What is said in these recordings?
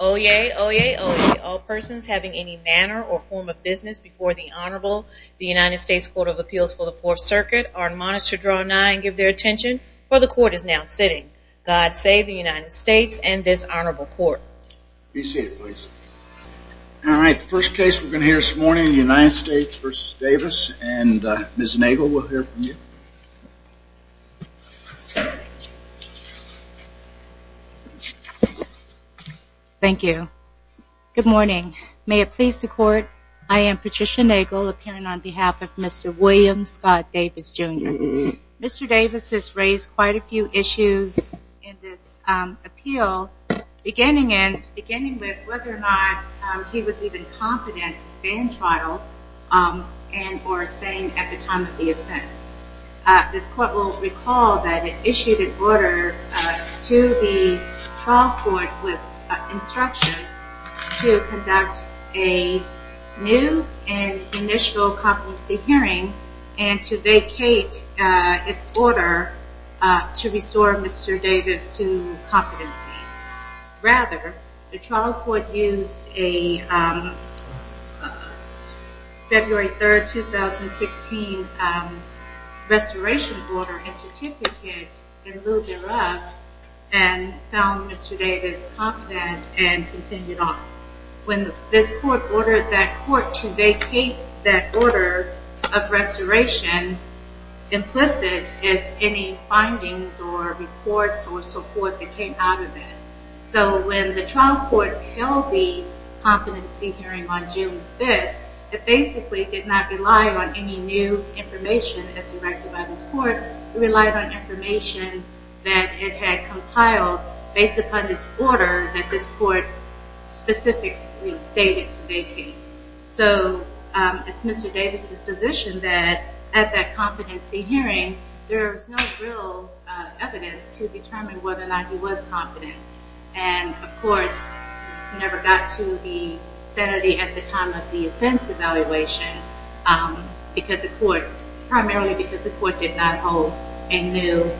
Oyez, oyez, oyez, all persons having any manner or form of business before the Honorable, the United States Court of Appeals for the Fourth Circuit, are admonished to draw nigh and give their attention, for the Court is now sitting. God save the United States and States v. Davis, and Ms. Nagel will hear from you. Thank you. Good morning. May it please the Court, I am Patricia Nagel, appearing on behalf of Mr. William Scott Davis, Jr. Mr. Davis has raised quite a few issues in this appeal, beginning with whether or not he was even competent to stand trial, or sane at the time of the offense. This Court will recall that it issued an order to the trial court with instructions to conduct a new and initial competency hearing, and to vacate its order to restore Mr. Davis to competency. Rather, the trial court used a February 3rd, 2016 restoration order and certificate in lieu thereof, and found Mr. Davis competent and continued on. When this Court ordered that Court to vacate that order of restoration, implicit is any findings or reports or support that came out of it. So when the trial court held the competency hearing on June 5th, it basically did not rely on any new information as directed by this Court, it relied on information that it had compiled based upon this order that this Court specifically stated to vacate. So it's Mr. Davis's position that at that competency hearing, there was no real evidence to determine whether or not he was competent. And of course, it never got to the sanity at the time of the offense evaluation because the Court, primarily because the Court did not hold a new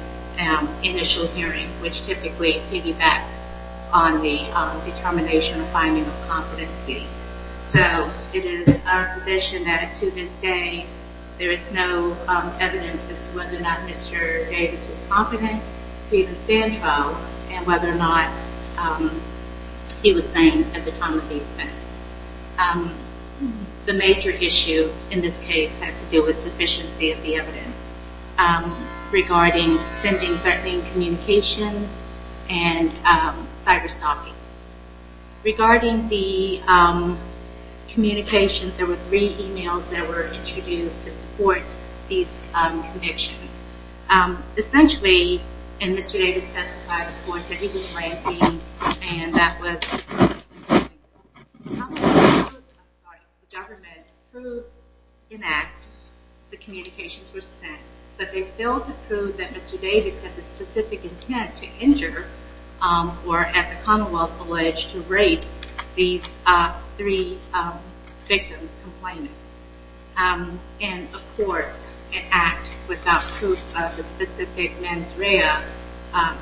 initial hearing, which typically piggybacks on the determination or finding of competency. So it is our position that to this day, there is no evidence as to whether or not Mr. Davis was competent to even stand trial and whether or not he was sane at the time of the offense. The major issue in this case has to do with sufficiency of the evidence regarding sending threatening communications and cyberstalking. Regarding the communications, there were three e-mails that were introduced to support these connections. Essentially, and Mr. Davis testified before us, that he was lanky and that was the government approved an act, the communications were sent, but they failed to prove that Mr. Davis had the And of course, an act without proof of the specific mens rea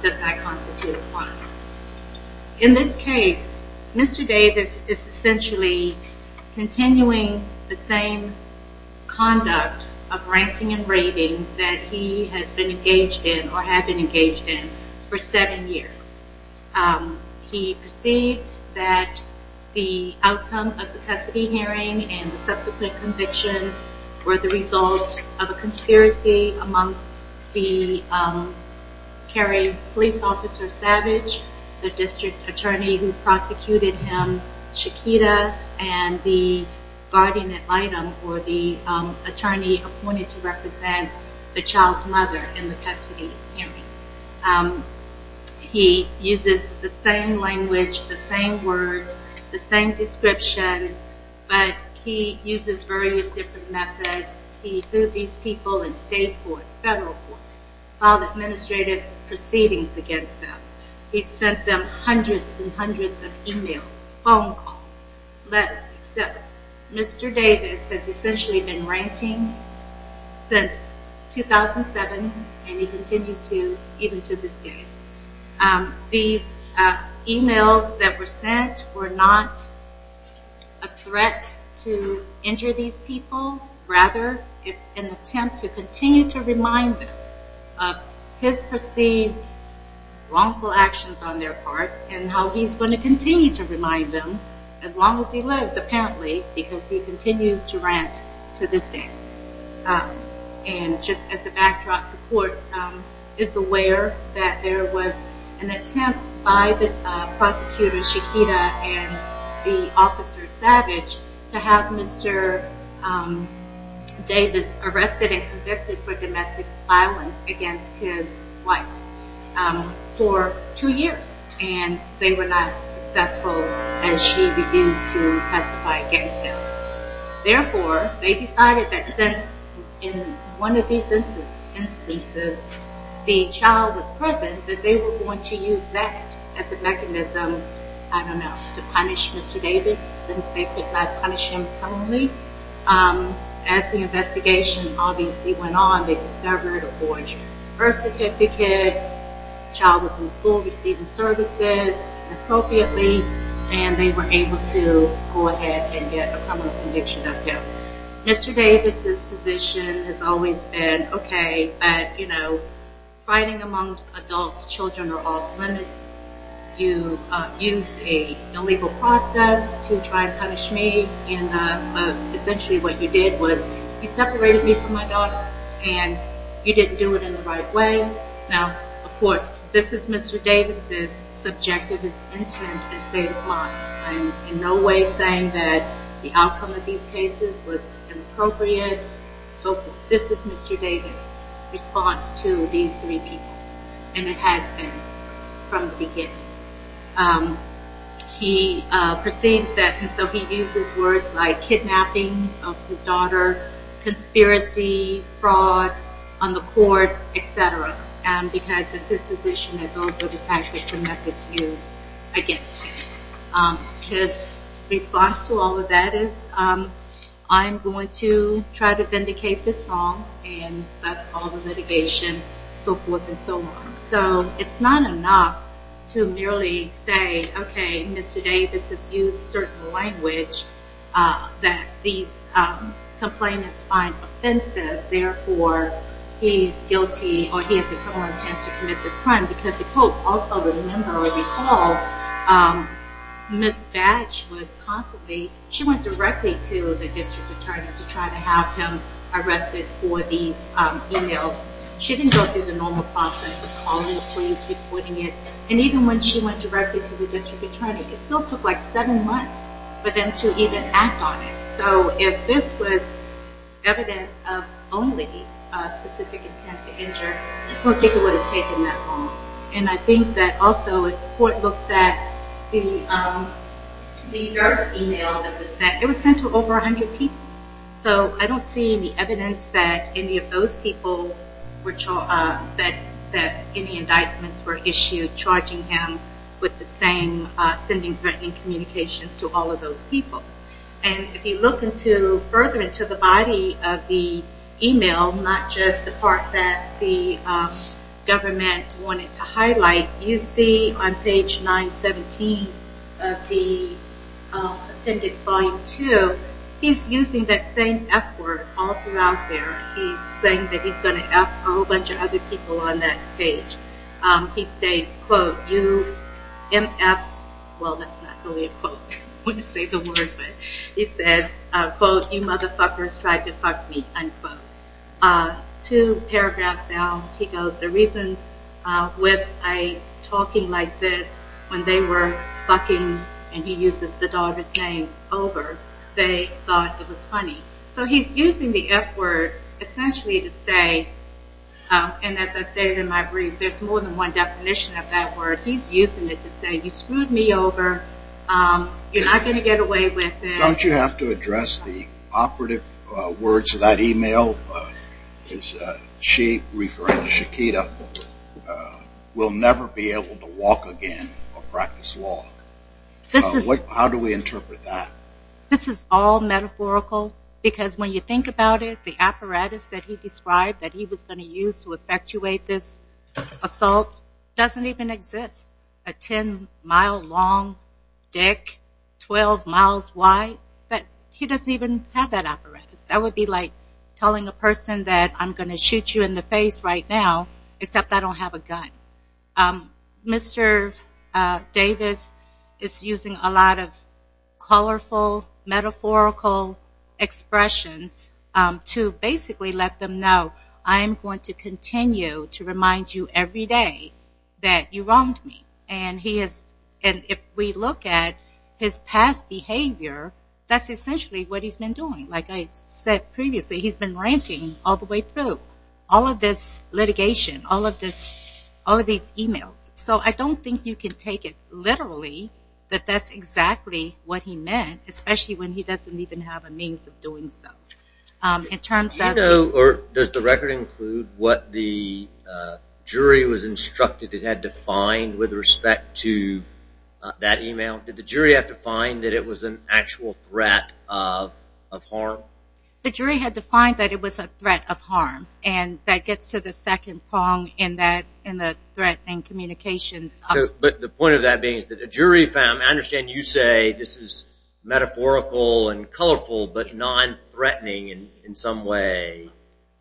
does not constitute a crime. In this case, Mr. Davis is essentially continuing the same conduct of ranting and raving that he has been engaged in or had been engaged in for seven years. He perceived that the subsequent convictions were the result of a conspiracy amongst the carrying police officer Savage, the district attorney who prosecuted him, Shakita, and the guardian ad litem, or the attorney appointed to represent the child's mother in the custody hearing. He uses the same language, the same words, the same descriptions, but he uses various different methods. He sued these people in state court, federal court, filed administrative proceedings against them. He sent them hundreds and hundreds of e-mails, phone calls, letters. Mr. Davis has sent were not a threat to injure these people. Rather, it's an attempt to continue to remind them of his perceived wrongful actions on their part and how he's going to continue to remind them as long as he lives, apparently, because he continues to rant to this day. And just as a prosecutor, Shakita, and the officer Savage to have Mr. Davis arrested and convicted for domestic violence against his wife for two years, and they were not successful as she refused to testify against him. Therefore, they decided that since in one of these instances, the child was present, that they were going to use that as a mechanism, I don't know, to punish Mr. Davis since they could not punish him criminally. As the investigation obviously went on, they discovered a forged birth certificate. The child was in school receiving services appropriately, and they were able to go ahead and get a criminal conviction of him. Mr. Davis' position has always been, okay, but, you know, fighting among adults, children are off limits. You used an illegal process to try and punish me, and essentially what you did was you separated me from my daughter, and you didn't do it in the right way. Now, of course, this is Mr. Davis' subjective intent and state of mind. I'm in no way saying that the outcome of these cases was inappropriate. So this is Mr. Davis' response to these three people, and it has been from the beginning. He perceives that, and so he uses words like kidnapping of his daughter, conspiracy, fraud on the court, et cetera, because this is his position that those are the tactics and methods used against him. His response to all of that is, I'm going to try to vindicate this wrong, and that's all the litigation, so forth and so on. So it's not enough to merely say, okay, Mr. Davis has used certain language that these complainants find offensive, therefore he's guilty or he has a criminal intent to commit this crime, because the court also would remember or recall Ms. Batch was constantly, she went directly to the district attorney to try to have him arrested for these emails. She didn't go through the normal process of calling the police, reporting it, and even when she went directly to the district attorney, it still took like seven months for them to even act on it. So if this was evidence of only specific intent to injure, I don't think it would have taken that long. And I think that also if the court looks at the first email that was sent, it was sent to over 100 people. So I don't see any evidence that any of those people, that any indictments were issued charging him with the same sending threatening communications to all of those people. And if you look further into the body of the email, not just the part that the government wanted to highlight, you see on page 917 of the appendix volume two, he's using that same F word all throughout there. He's saying that he's going to F a whole lot. Well, that's not really a quote. I want to say the word, but he says, quote, you motherfuckers tried to fuck me, unquote. Two paragraphs down, he goes, the reason with a talking like this, when they were fucking, and he uses the daughter's name over, they thought it was funny. So he's using the F word essentially to say, and as I say in my brief, there's more than one definition of that word. He's using it to say you screwed me over. You're not going to get away with it. Don't you have to address the operative words of that email? She referring to Shakita, will never be able to walk again or practice law. How do we interpret that? This is all metaphorical, because when you think about it, the apparatus that he described that he was going to use to effectuate this assault doesn't even exist. A ten mile long dick, 12 miles wide, but he doesn't even have that apparatus. That would be like telling a person that I'm going to shoot you in the face right now, except I don't have a gun. Mr. Davis is using a lot of colorful, metaphorical expressions to basically let them know I'm going to continue to remind you every day that you wronged me. And if we look at his past behavior, that's essentially what he's been doing. Like I said previously, he's been ranting all the way through. All of this litigation, all of these emails. So I don't think you can take it literally that that's exactly what he meant, especially when he doesn't even have a means of doing so. Does the record include what the jury was instructed it had to find with respect to that email? Did the jury have to find that it was an actual threat of harm? The jury had to find that it was a threat of harm. And that gets to the second prong in the threat and communications. But the point of that being that the jury found, I understand you say this is metaphorical and colorful, but non-threatening in some way.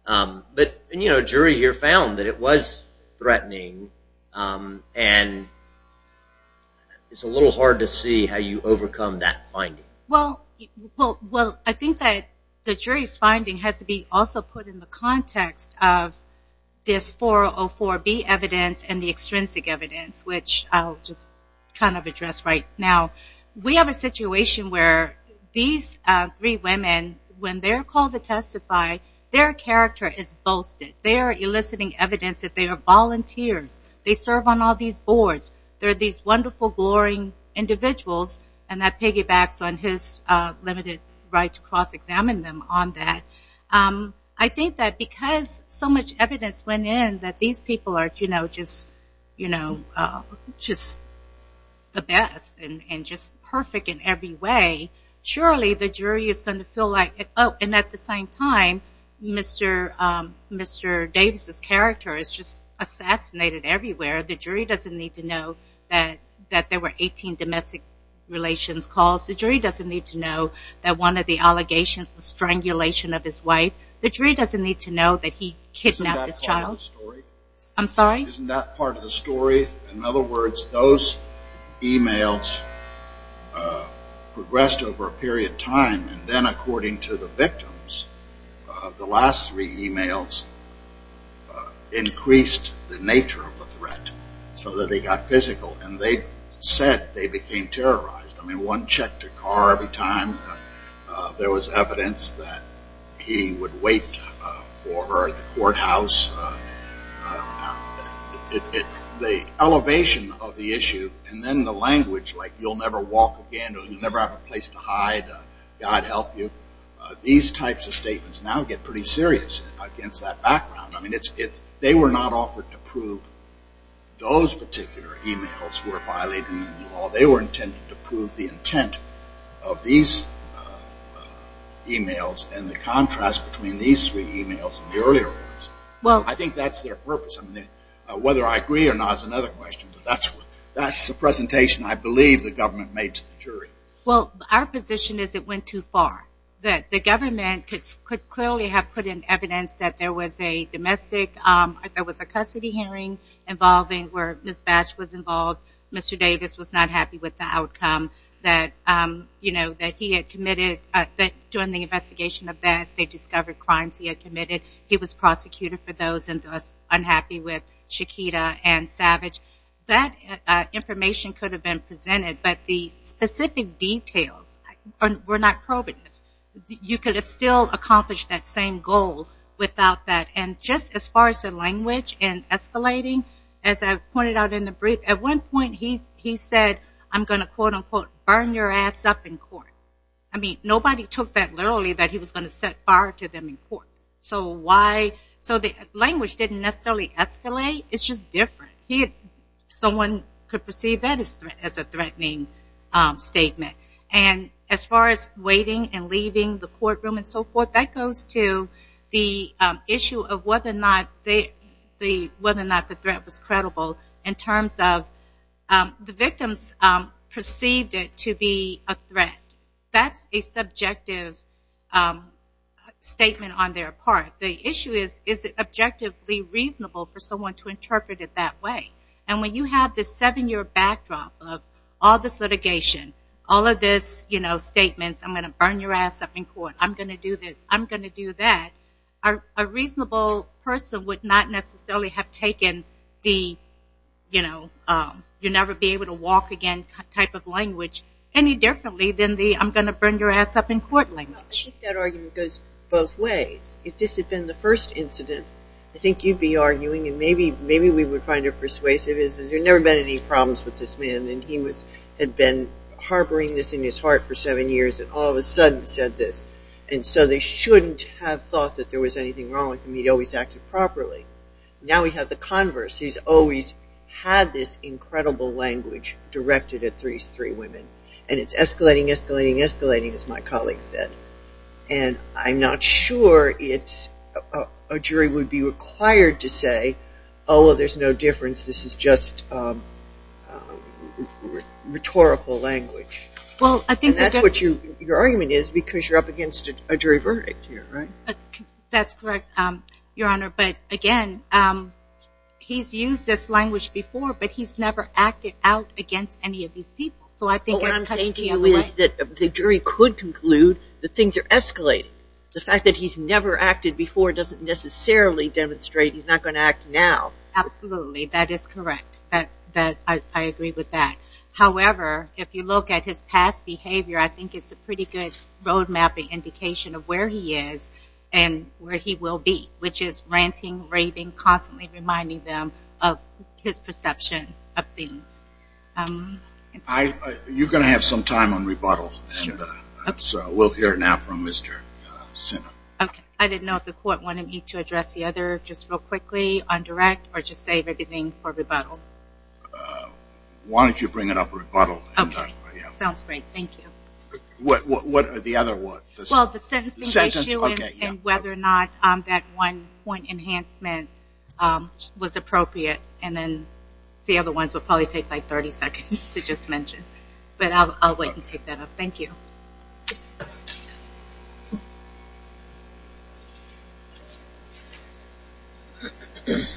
But the jury here found that it was threatening. And it's a little hard to see how you overcome that finding. Well, I think that the jury's finding has to be also put in the context of this 404B evidence and the extrinsic evidence, which I'll just kind of address right now. We have a situation where these three women, when they're called to testify, their character is boasted. They are eliciting evidence that they are volunteers. They serve on all these boards. They're these wonderful, glorying individuals. And that piggybacks on his limited right to cross-examine them on that. I think that because so much evidence went in that these people are just the best and just perfect in every way, surely the jury is going to feel like, oh, and at the same time, Mr. Davis' character is just The jury doesn't need to know that one of the allegations was strangulation of his wife. The jury doesn't need to know that he kidnapped his child. Isn't that part of the story? I'm sorry? Isn't that part of the story? In other words, those emails progressed over a period of time. And then according to the victims, the last three emails increased the nature of the threat so that they got physical. And they said they became terrorized. One checked her car every time. There was evidence that he would wait for her at the courthouse. The elevation of the issue and then the language like you'll never walk again or you'll never have a place to hide, God help you, these types of statements now get pretty serious against that background. They were not offered to prove those particular emails were violating the law. They were intended to prove the intent of these emails and the contrast between these three emails and the earlier ones. I think that's their purpose. Whether I agree or not is another question, but that's the presentation I believe the government made to the jury. Well, our position is it went too far. That the government could clearly have put in evidence that there was a domestic, there was a custody hearing involving where Ms. Batch was involved. Mr. Davis was not happy with the outcome that he had committed during the investigation of that. They discovered crimes he had committed. He was prosecuted for those and thus unhappy with Shaquita and Savage. That information could have been presented, but the same goal without that. And just as far as the language and escalating, as I pointed out in the brief, at one point he said, I'm going to quote unquote burn your ass up in court. I mean, nobody took that literally that he was going to set fire to them in court. So why, so the language didn't necessarily escalate. It's just different. Someone could perceive that as a threatening statement. And as far as waiting and leaving the courtroom and so forth, that goes to the issue of whether or not the threat was credible in terms of the victims perceived it to be a threat. That's a subjective statement on their part. The issue is, is it objectively reasonable for someone to interpret it that way? And when you have this seven-year backdrop of all this litigation, all of this statements, I'm going to burn your ass up in court, I'm going to do this, I'm going to do that, a reasonable person would not necessarily have taken the, you know, you'll never be able to walk again type of language any differently than the I'm going to burn your ass up in court language. I think that argument goes both ways. If this had been the first incident, I think you'd be arguing and maybe we would find it persuasive, there's never been any problems with this man and he had been harboring this in his heart for seven years and all of a sudden said this. And so they shouldn't have thought that there was anything wrong with him. He'd always acted properly. Now we have the converse. He's always had this incredible language directed at three women. And it's required to say, oh, well, there's no difference. This is just rhetorical language. And that's what your argument is because you're up against a jury verdict here, right? That's correct, Your Honor, but again, he's used this language before, but he's never acted out against any of these people. What I'm saying to you is that the jury could conclude that things are escalating. The fact that he's never acted before doesn't necessarily demonstrate he's not going to act now. Absolutely. That is correct. I agree with that. However, if you look at his past behavior, I think it's a pretty good road mapping indication of where he is and where he will be, which is ranting, raving, constantly reminding them of his perception of things. You're going to have some time on rebuttal. We'll hear it now from Mr. Sinnott. I didn't know if the court wanted me to address the other just real quickly on direct or just say everything for rebuttal. Why don't you bring it up for rebuttal? Okay. Sounds great. Thank you. What about the other one? The sentencing issue and whether or not that one point enhancement was appropriate and then the other ones will probably take like 30 seconds to just mention, but I'll wait and take that up. Thank you. Good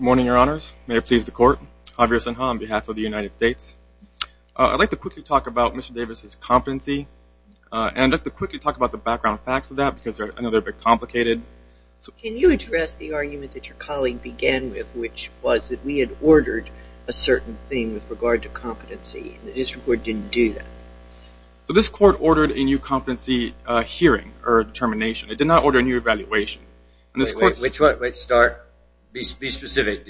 morning, your honors. May it please the court. Javier Sinha on behalf of the United States. I'd like to quickly talk about Mr. Davis's competency and I'd like to quickly talk about the background facts of that because I know they're a bit complicated. Can you address the argument that your colleague began with, which was that we had ordered a certain thing with regard to competency and the district court didn't do that? So this court ordered a new competency hearing or determination. It did not order a new evaluation. Wait, start. Be specific.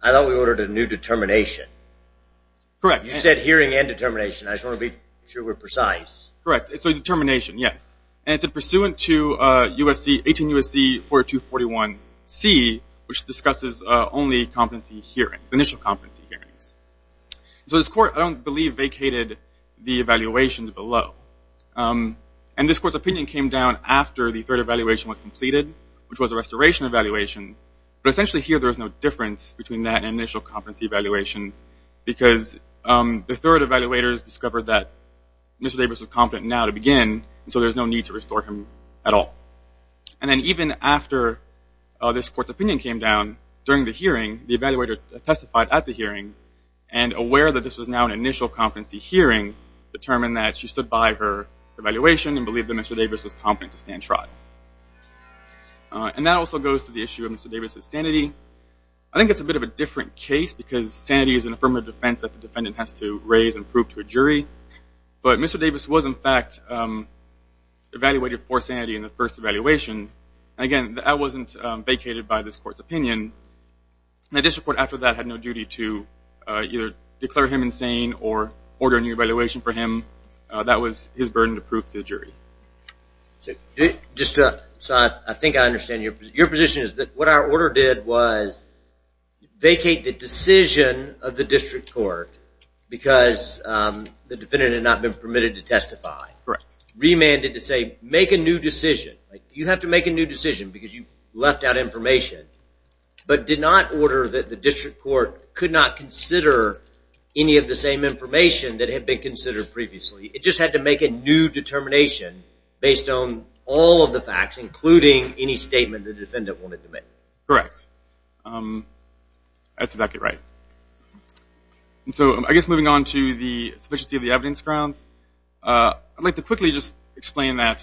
I thought we ordered a new determination. Correct. You said hearing and determination. I just want to be sure we're precise. Correct. It's a determination, yes. And it's pursuant to U.S.C., 18 U.S.C. 4241C, which discusses only competency hearings, initial competency hearings. So this court, I don't believe, vacated the evaluations below. And this court's opinion came down after the third evaluation was completed, which was a restoration evaluation, but essentially here there was no difference between that and initial competency evaluation because the third evaluators discovered that Mr. Davis was competent now to begin, and so there's no need to restore him at all. And then even after this court's opinion came down during the hearing, the evaluator testified at the hearing and, aware that this was now an initial competency hearing, determined that she stood by her evaluation and believed that Mr. Davis was competent to stand trial. And that also goes to the issue of Mr. Davis' sanity. I think it's a bit of a different case because sanity is an affirmative defense that the defendant has to raise and prove to a jury. But Mr. Davis was, in fact, evaluated for sanity in the first evaluation. Again, that wasn't vacated by this court's opinion. And the district court after that had no duty to either declare him insane or order a new evaluation for him. That was his burden to prove to the jury. So I think I understand your position is that what our order did was vacate the decision of the district court because the defendant had not been permitted to testify. Remanded to say make a new decision. You have to make a new decision because you left out information, but did not order that the district court could not consider any of the same information that had been considered previously. It just had to make a new determination based on all of the facts including any statement the district court had made. That's exactly right. So I guess moving on to the sufficiency of the evidence grounds, I'd like to quickly just explain that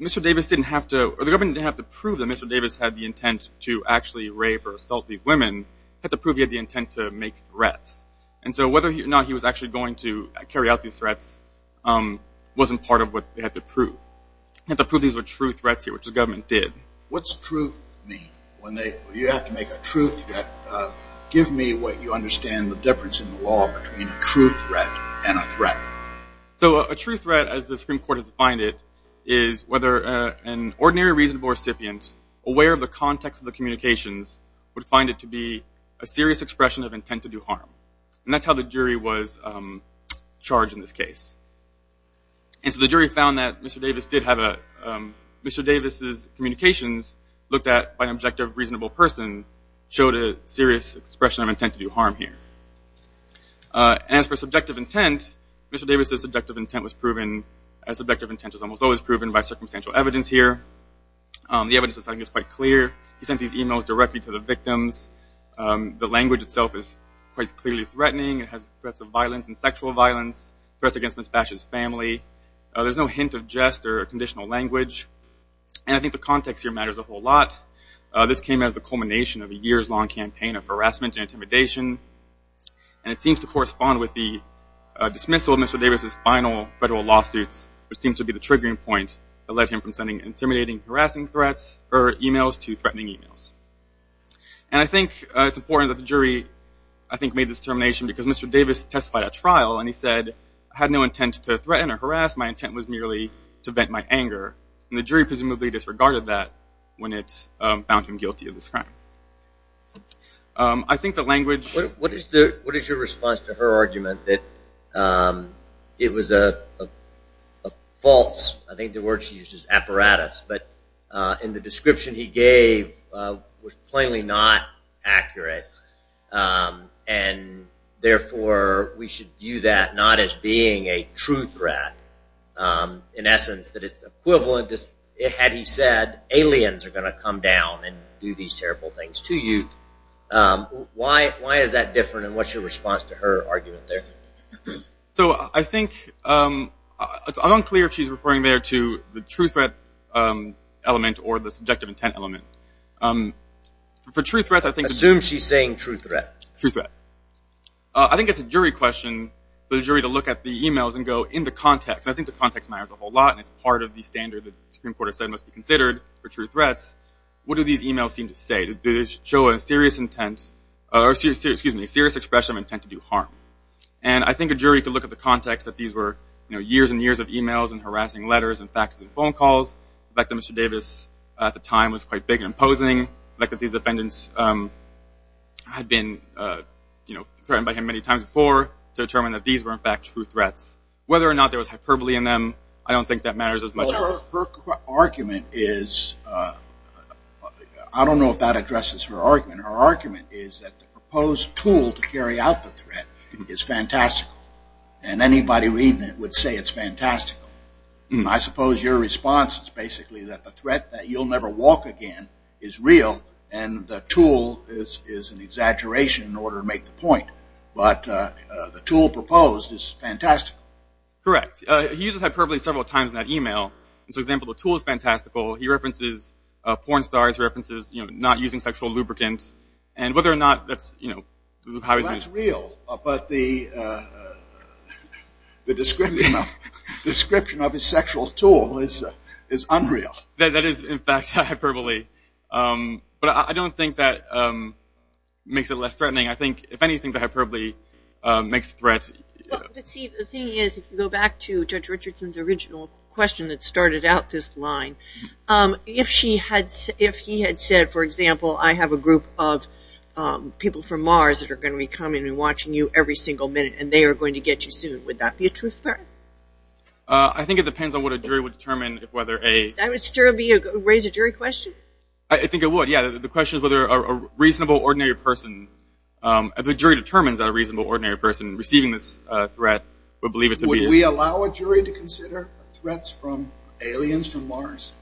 Mr. Davis didn't have to, or the government didn't have to prove that Mr. Davis had the intent to actually rape or assault these women. It had to prove he had the intent to make threats. And so whether or not he was actually going to carry out these threats wasn't part of what they had to prove. They had to prove these were true threats here, which the government did. What's true mean? You have to make a true threat. Give me what you understand the difference in the law between a true threat and a threat. So a true threat as the Supreme Court has defined it is whether an ordinary reasonable recipient aware of the context of the communications would find it to be a serious expression of intent to do harm. And that's how the jury was charged in this case. And so the jury found that Mr. Davis did have a, Mr. Davis' communications looked at by an objective reasonable person showed a serious expression of intent to do harm here. As for subjective intent, Mr. Davis' subjective intent was proven, as subjective intent is almost always proven by circumstantial evidence here. The evidence is quite clear. He sent these emails directly to the family. There's no hint of jest or conditional language. And I think the context here matters a whole lot. This came as the culmination of a years-long campaign of harassment and intimidation. And it seems to correspond with the dismissal of Mr. Davis' final federal lawsuits, which seems to be the triggering point that led him from sending intimidating harassing threats or emails to threatening emails. And I think it's clear that Mr. Davis testified at trial, and he said, I had no intent to threaten or harass. My intent was merely to vent my anger. And the jury presumably disregarded that when it found him guilty of this crime. I think the language... What is your response to her argument that it was a false, I think the word she used is apparatus, but in the description he gave was we should view that not as being a true threat. In essence, that it's equivalent, had he said, aliens are going to come down and do these terrible things to you. Why is that different, and what's your response to her argument there? So I think, it's unclear if she's referring there to the true threat element or the subjective intent element. For true threats, I think... Assume she's saying true threat. I think it's a jury question for the jury to look at the emails and go in the context, and I think the context matters a whole lot, and it's part of the standard that the Supreme Court has said must be considered for true threats. What do these emails seem to say? Do they show a serious intent, or excuse me, a serious expression of intent to do harm? And I think a jury could look at the context that these were years and years of emails and harassing letters and faxes and phone calls, the fact that Mr. Davis at the time was quite big and imposing, the fact that these were in fact true threats. Whether or not there was hyperbole in them, I don't think that matters as much as... Her argument is, I don't know if that addresses her argument. Her argument is that the proposed tool to carry out the threat is fantastical, and anybody reading it would say it's fantastical. I suppose your response is basically that the threat that you'll never walk again is real, and the tool is an exaggeration in order to make the point, but the tool proposed is fantastical. Correct. He uses hyperbole several times in that email. For example, the tool is fantastical. He references porn stars, references not using sexual lubricant, and whether or not that's... That's real, but the description of his sexual tool is unreal. That is in fact hyperbole, but I don't think that makes it less threatening. I think, if anything, the hyperbole makes the threat... But see, the thing is, if you go back to Judge Richardson's original question that started out this line, if he had said, for example, I have a group of people from Mars that are going to be coming and watching you every single minute, and they are going to get you soon, would that be a true threat? I think it depends on what a jury would determine whether a... That would still raise a jury question? I think it would, yeah. The question is whether a reasonable, ordinary person, if a jury determines that a reasonable, ordinary person receiving this threat would believe it to be... Would we allow a jury to consider threats from aliens from Mars?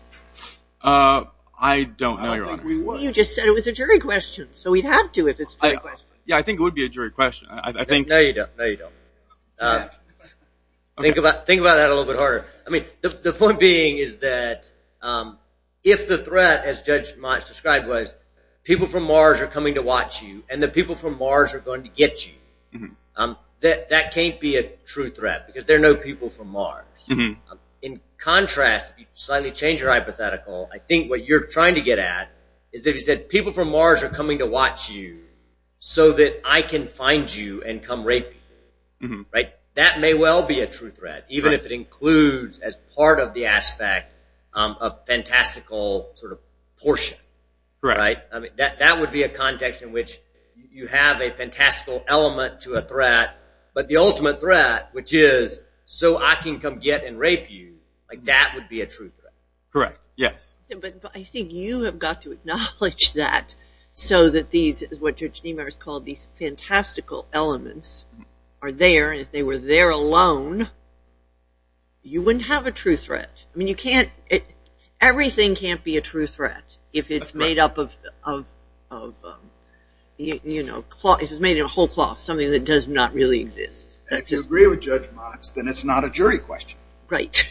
I don't know, Your Honor. I don't think we would. You just said it was a jury question, so we'd have to if it's a jury question. Yeah, I think it would be a jury question. I think... No, you don't. No, you don't. Think about that a little bit harder. I mean, the point being is that if the threat, as Judge Mott has described, was people from Mars are coming to watch you and the people from Mars are going to get you, that can't be a true threat because there are no people from Mars. In contrast, if you slightly change your hypothetical, I think what you're trying to get at is that if you said people from Mars are coming to watch you so that I can find you and come rape you, that may well be a true threat, even if it includes, as part of the aspect, a fantastical portion. That would be a context in which you have a fantastical element to a threat, but the ultimate threat, which is, so I can come get and rape you, that would be a true threat. Correct, yes. But I think you have got to acknowledge that so that these, what Judge Niemeyer has called these fantastical elements, are there and if they were there alone, you wouldn't have a true threat. I mean, you can't, everything can't be a true threat if it's made up of, you know, if it's made in a whole cloth, something that does not really exist. If you agree with Judge Mott, then it's not a jury question. Right.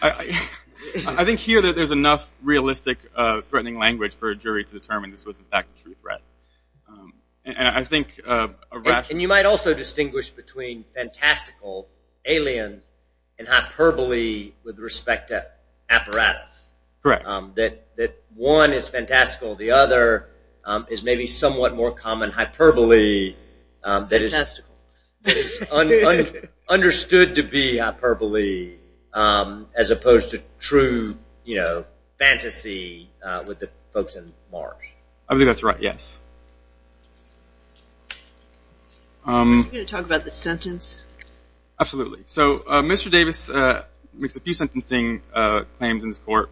I think here that there's enough realistic threatening language for a jury to determine this was in fact a true threat. And I think... And you might also distinguish between fantastical, aliens, and hyperbole with respect to apparatus. Correct. That one is fantastical, the other is maybe somewhat more common hyperbole that is... Fantastical. Understood to be hyperbole as opposed to true, you know, fantasy with the folks in Mars. I think that's right, yes. Are you going to talk about the sentence? Absolutely. So Mr. Davis makes a few sentencing claims in this court.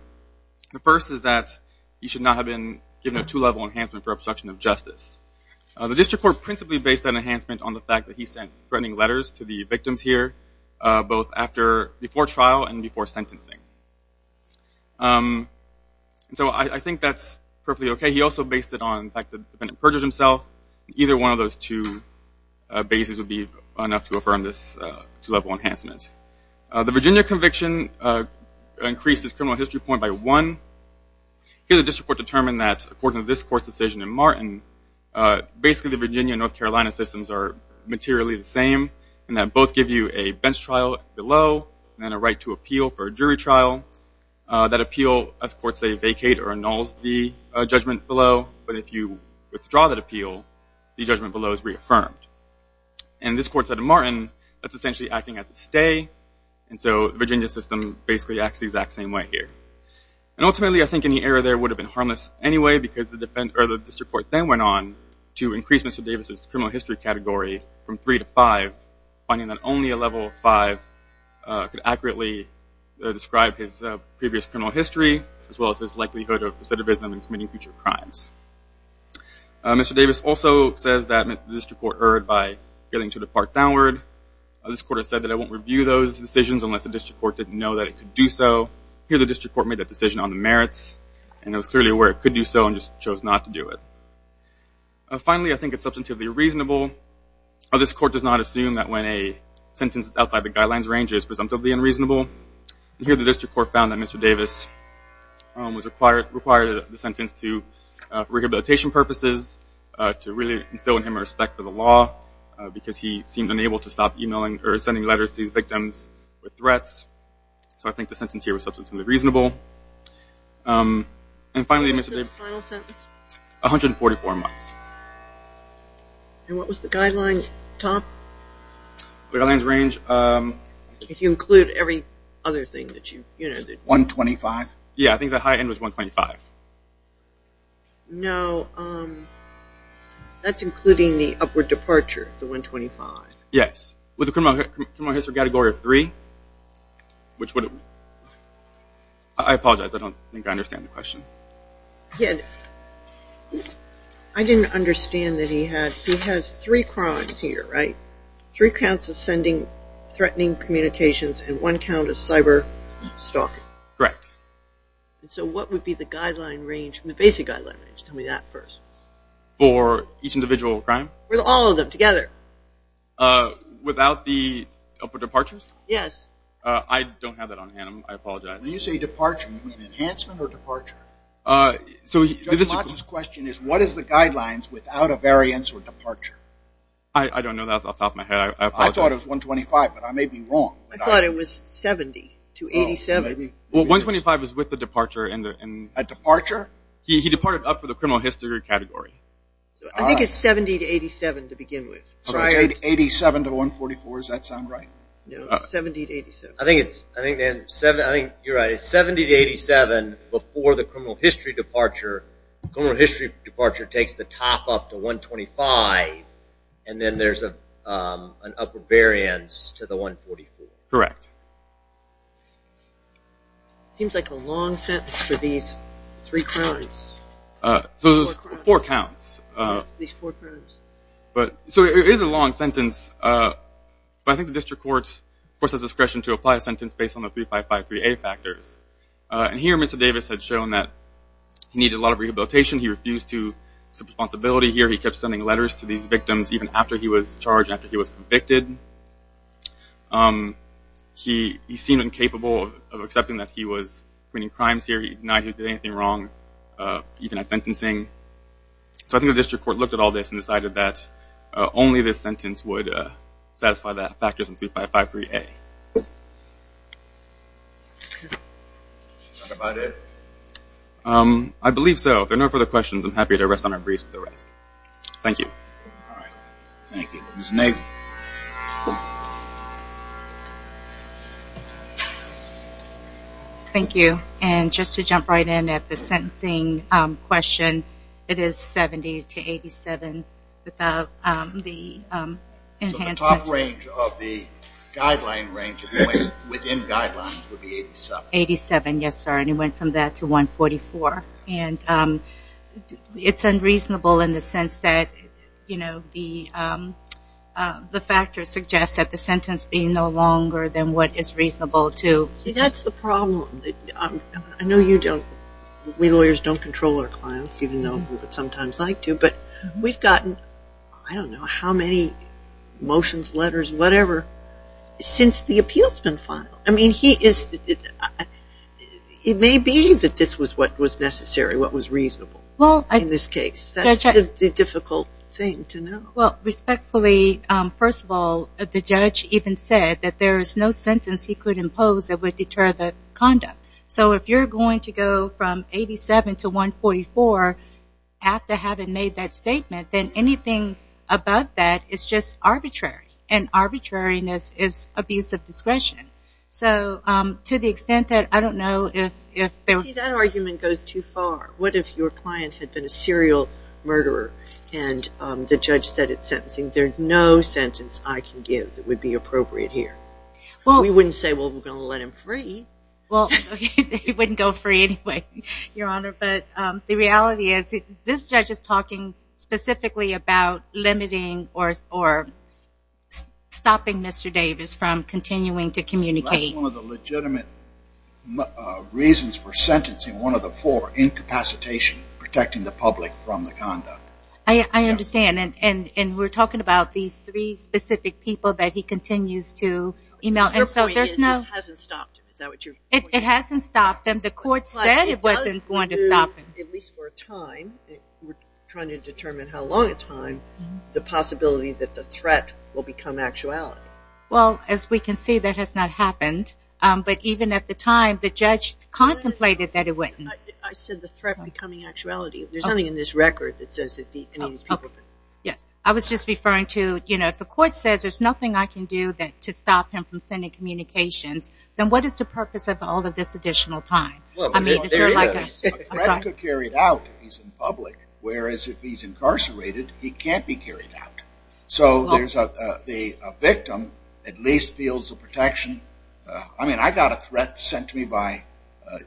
The first is that he should not have been given a two-level enhancement for obstruction of justice. The district court principally based that enhancement on the fact that he sent threatening letters to the victims here, both before trial and before sentencing. So I think that's perfectly okay. He also based it on the fact that the defendant perjured himself. Either one of those two bases would be enough to affirm this two-level enhancement. The Virginia conviction increased his criminal history point by one. Here the district court determined that according to this court's decision in Martin, basically the Virginia and North Carolina systems are materially the same, in that both give you a bench trial below and then a right to appeal for a jury trial. That appeal, as courts say, vacate or annuls the judgment below, but if you withdraw that appeal, the judgment below is reaffirmed. And this court said in Martin, that's essentially acting as a stay, and so the Virginia system basically acts the exact same way here. And ultimately I think any error there would have been harmless anyway, because the district court then went on to increase Mr. Davis' criminal history category from three to five, finding that only a level five could accurately describe his previous criminal history, as well as his likelihood of recidivism and committing future crimes. Mr. Davis also says that the district court erred by failing to depart downward. This court has said that it won't review those decisions unless the district court didn't know that it could do so. Here the district court made that decision on the merits, and it was clearly aware it could do so and just chose not to do it. Finally, I think it's substantively reasonable. This court does not assume that when a sentence is outside the guidelines range, it is presumptively unreasonable. Here the district court found that Mr. Davis was required the sentence for rehabilitation purposes, to really instill in him a respect for the law, because he seemed unable to stop emailing or sending letters to these victims with threats. So I think the sentence here was substantively reasonable. And finally, Mr. Davis... What was the final sentence? 144 months. And what was the guideline, Tom? Guidelines range... If you include every other thing that you... 125? Yeah, I think the high end was 125. No, that's including the upward departure, the 125. Yes, with the criminal history category of three, which would... I apologize, I don't think I understand the question. Yeah, I didn't understand that he had... He has three crimes here, right? Three counts of sending threatening communications and one count of cyber stalking. Correct. So what would be the guideline range, the basic guideline range? Tell me that first. For each individual crime? For all of them together. Without the upward departures? Yes. I don't have that on hand. I apologize. When you say departure, you mean enhancement or departure? Judge Motz's question is what is the guidelines without a variance or departure? I don't know that off the top of my head. I thought it was 125, but I may be wrong. I thought it was 70 to 87. Well, 125 is with the departure and... A departure? He departed up for the criminal history category. I think it's 70 to 87 to begin with. So it's 87 to 144, does that sound right? No, it's 70 to 87. I think you're right. It's 70 to 87 before the criminal history departure. The criminal history departure takes the top up to 125, and then there's an upper variance to the 144. Correct. Seems like a long sentence for these three crimes. So there's four counts. These four crimes. So it is a long sentence, but I think the district court forces discretion to apply a sentence based on the 3553A factors. And here Mr. Davis had shown that he needed a lot of rehabilitation. He refused to take responsibility here. He kept sending letters to these victims even after he was charged, after he was convicted. He seemed incapable of accepting that he was committing crimes here. He denied he did anything wrong. He denied sentencing. So I think the district court looked at all this and decided that only this sentence would satisfy the factors in 3553A. Is that about it? I believe so. If there are no further questions, I'm happy to rest on our briefs with the rest. Thank you. All right. Thank you. Ms. Navy. Thank you. Thank you. And just to jump right in at the sentencing question, it is 70 to 87 without the enhancements. So the top range of the guideline range within guidelines would be 87? 87, yes, sir. And it went from that to 144. And it's unreasonable in the sense that, you know, the factors suggest that the sentence be no longer than what is reasonable to. See, that's the problem. I know you don't, we lawyers don't control our clients, even though we would sometimes like to. But we've gotten, I don't know, how many motions, letters, whatever, since the appeal's been filed. I mean, he is, it may be that this was what was necessary, what was reasonable in this case. That's the difficult thing to know. Well, respectfully, first of all, the judge even said that there is no sentence he could impose that would deter the conduct. So if you're going to go from 87 to 144 after having made that statement, then anything above that is just arbitrary. And arbitrariness is abuse of discretion. So to the extent that, I don't know if there... See, that argument goes too far. What if your client had been a serial murderer and the judge said at sentencing, there's no sentence I can give that would be appropriate here? Well... We wouldn't say, well, we're going to let him free. Well, okay, they wouldn't go free anyway, Your Honor. But the reality is this judge is talking specifically about limiting or stopping Mr. Davis from continuing to communicate. That's one of the legitimate reasons for sentencing, one of the four, incapacitation, protecting the public from the conduct. I understand. And we're talking about these three specific people that he continues to email. Your point is this hasn't stopped him. Is that what you're... It hasn't stopped him. The court said it wasn't going to stop him. At least for a time. We're trying to determine how long a time, the possibility that the threat will become actuality. Well, as we can see, that has not happened. But even at the time, the judge contemplated that it wouldn't. I said the threat becoming actuality. There's something in this record that says that any of these people... Yes, I was just referring to, you know, if the court says there's nothing I can do to stop him from sending communications, then what is the purpose of all of this additional time? I mean, is there like a... A threat could carry it out if he's in public, whereas if he's incarcerated, he can't be carried out. So there's a victim at least feels the protection. I mean, I got a threat sent to me by a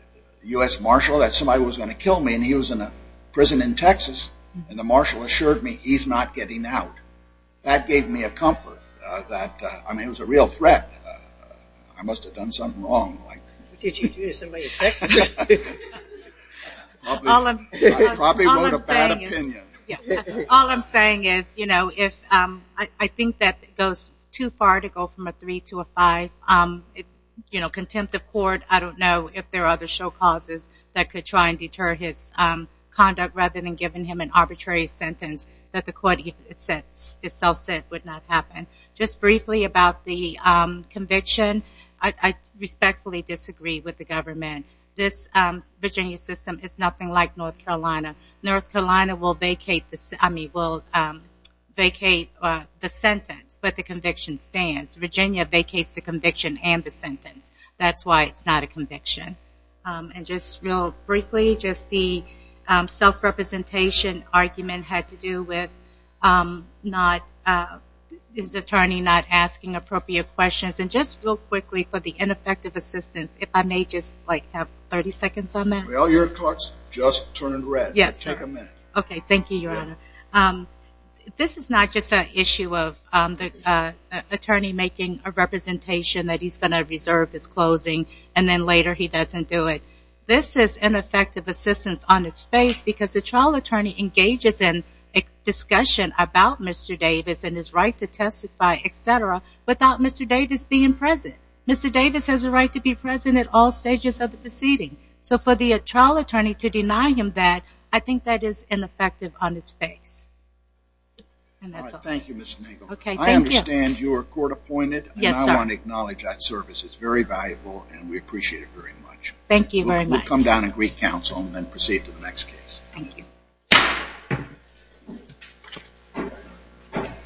U.S. marshal that somebody was going to kill me, and he was in a prison in Texas, and the marshal assured me he's not getting out. That gave me a comfort that, I mean, it was a real threat. I must have done something wrong. Did you do this in Texas? I probably wrote a bad opinion. All I'm saying is, you know, if I think that goes too far to go from a three to a five, you know, contempt of court, I don't know if there are other show causes that could try and deter his conduct rather than giving him an arbitrary sentence that the court itself said would not happen. Just briefly about the conviction. I respectfully disagree with the government. This Virginia system is nothing like North Carolina. North Carolina will vacate the sentence, but the conviction stands. Virginia vacates the conviction and the sentence. That's why it's not a conviction. And just real briefly, just the self-representation argument had to do with his attorney not asking appropriate questions. And just real quickly, for the ineffective assistance, if I may just, like, have 30 seconds on that? Well, your clock's just turned red. Yes, sir. Take a minute. Okay, thank you, Your Honor. This is not just an issue of the attorney making a representation that he's going to reserve his closing, and then later he doesn't do it. This is ineffective assistance on its face because the trial attorney engages in a discussion about Mr. Davis and his right to testify, et cetera, without Mr. Davis being present. Mr. Davis has a right to be present at all stages of the proceeding. So for the trial attorney to deny him that, I think that is ineffective on its face. All right, thank you, Ms. Nagle. I understand you are court-appointed. Yes, sir. And I want to acknowledge that service. It's very valuable, and we appreciate it very much. Thank you very much. We'll come down and greet counsel and then proceed to the next case. Thank you.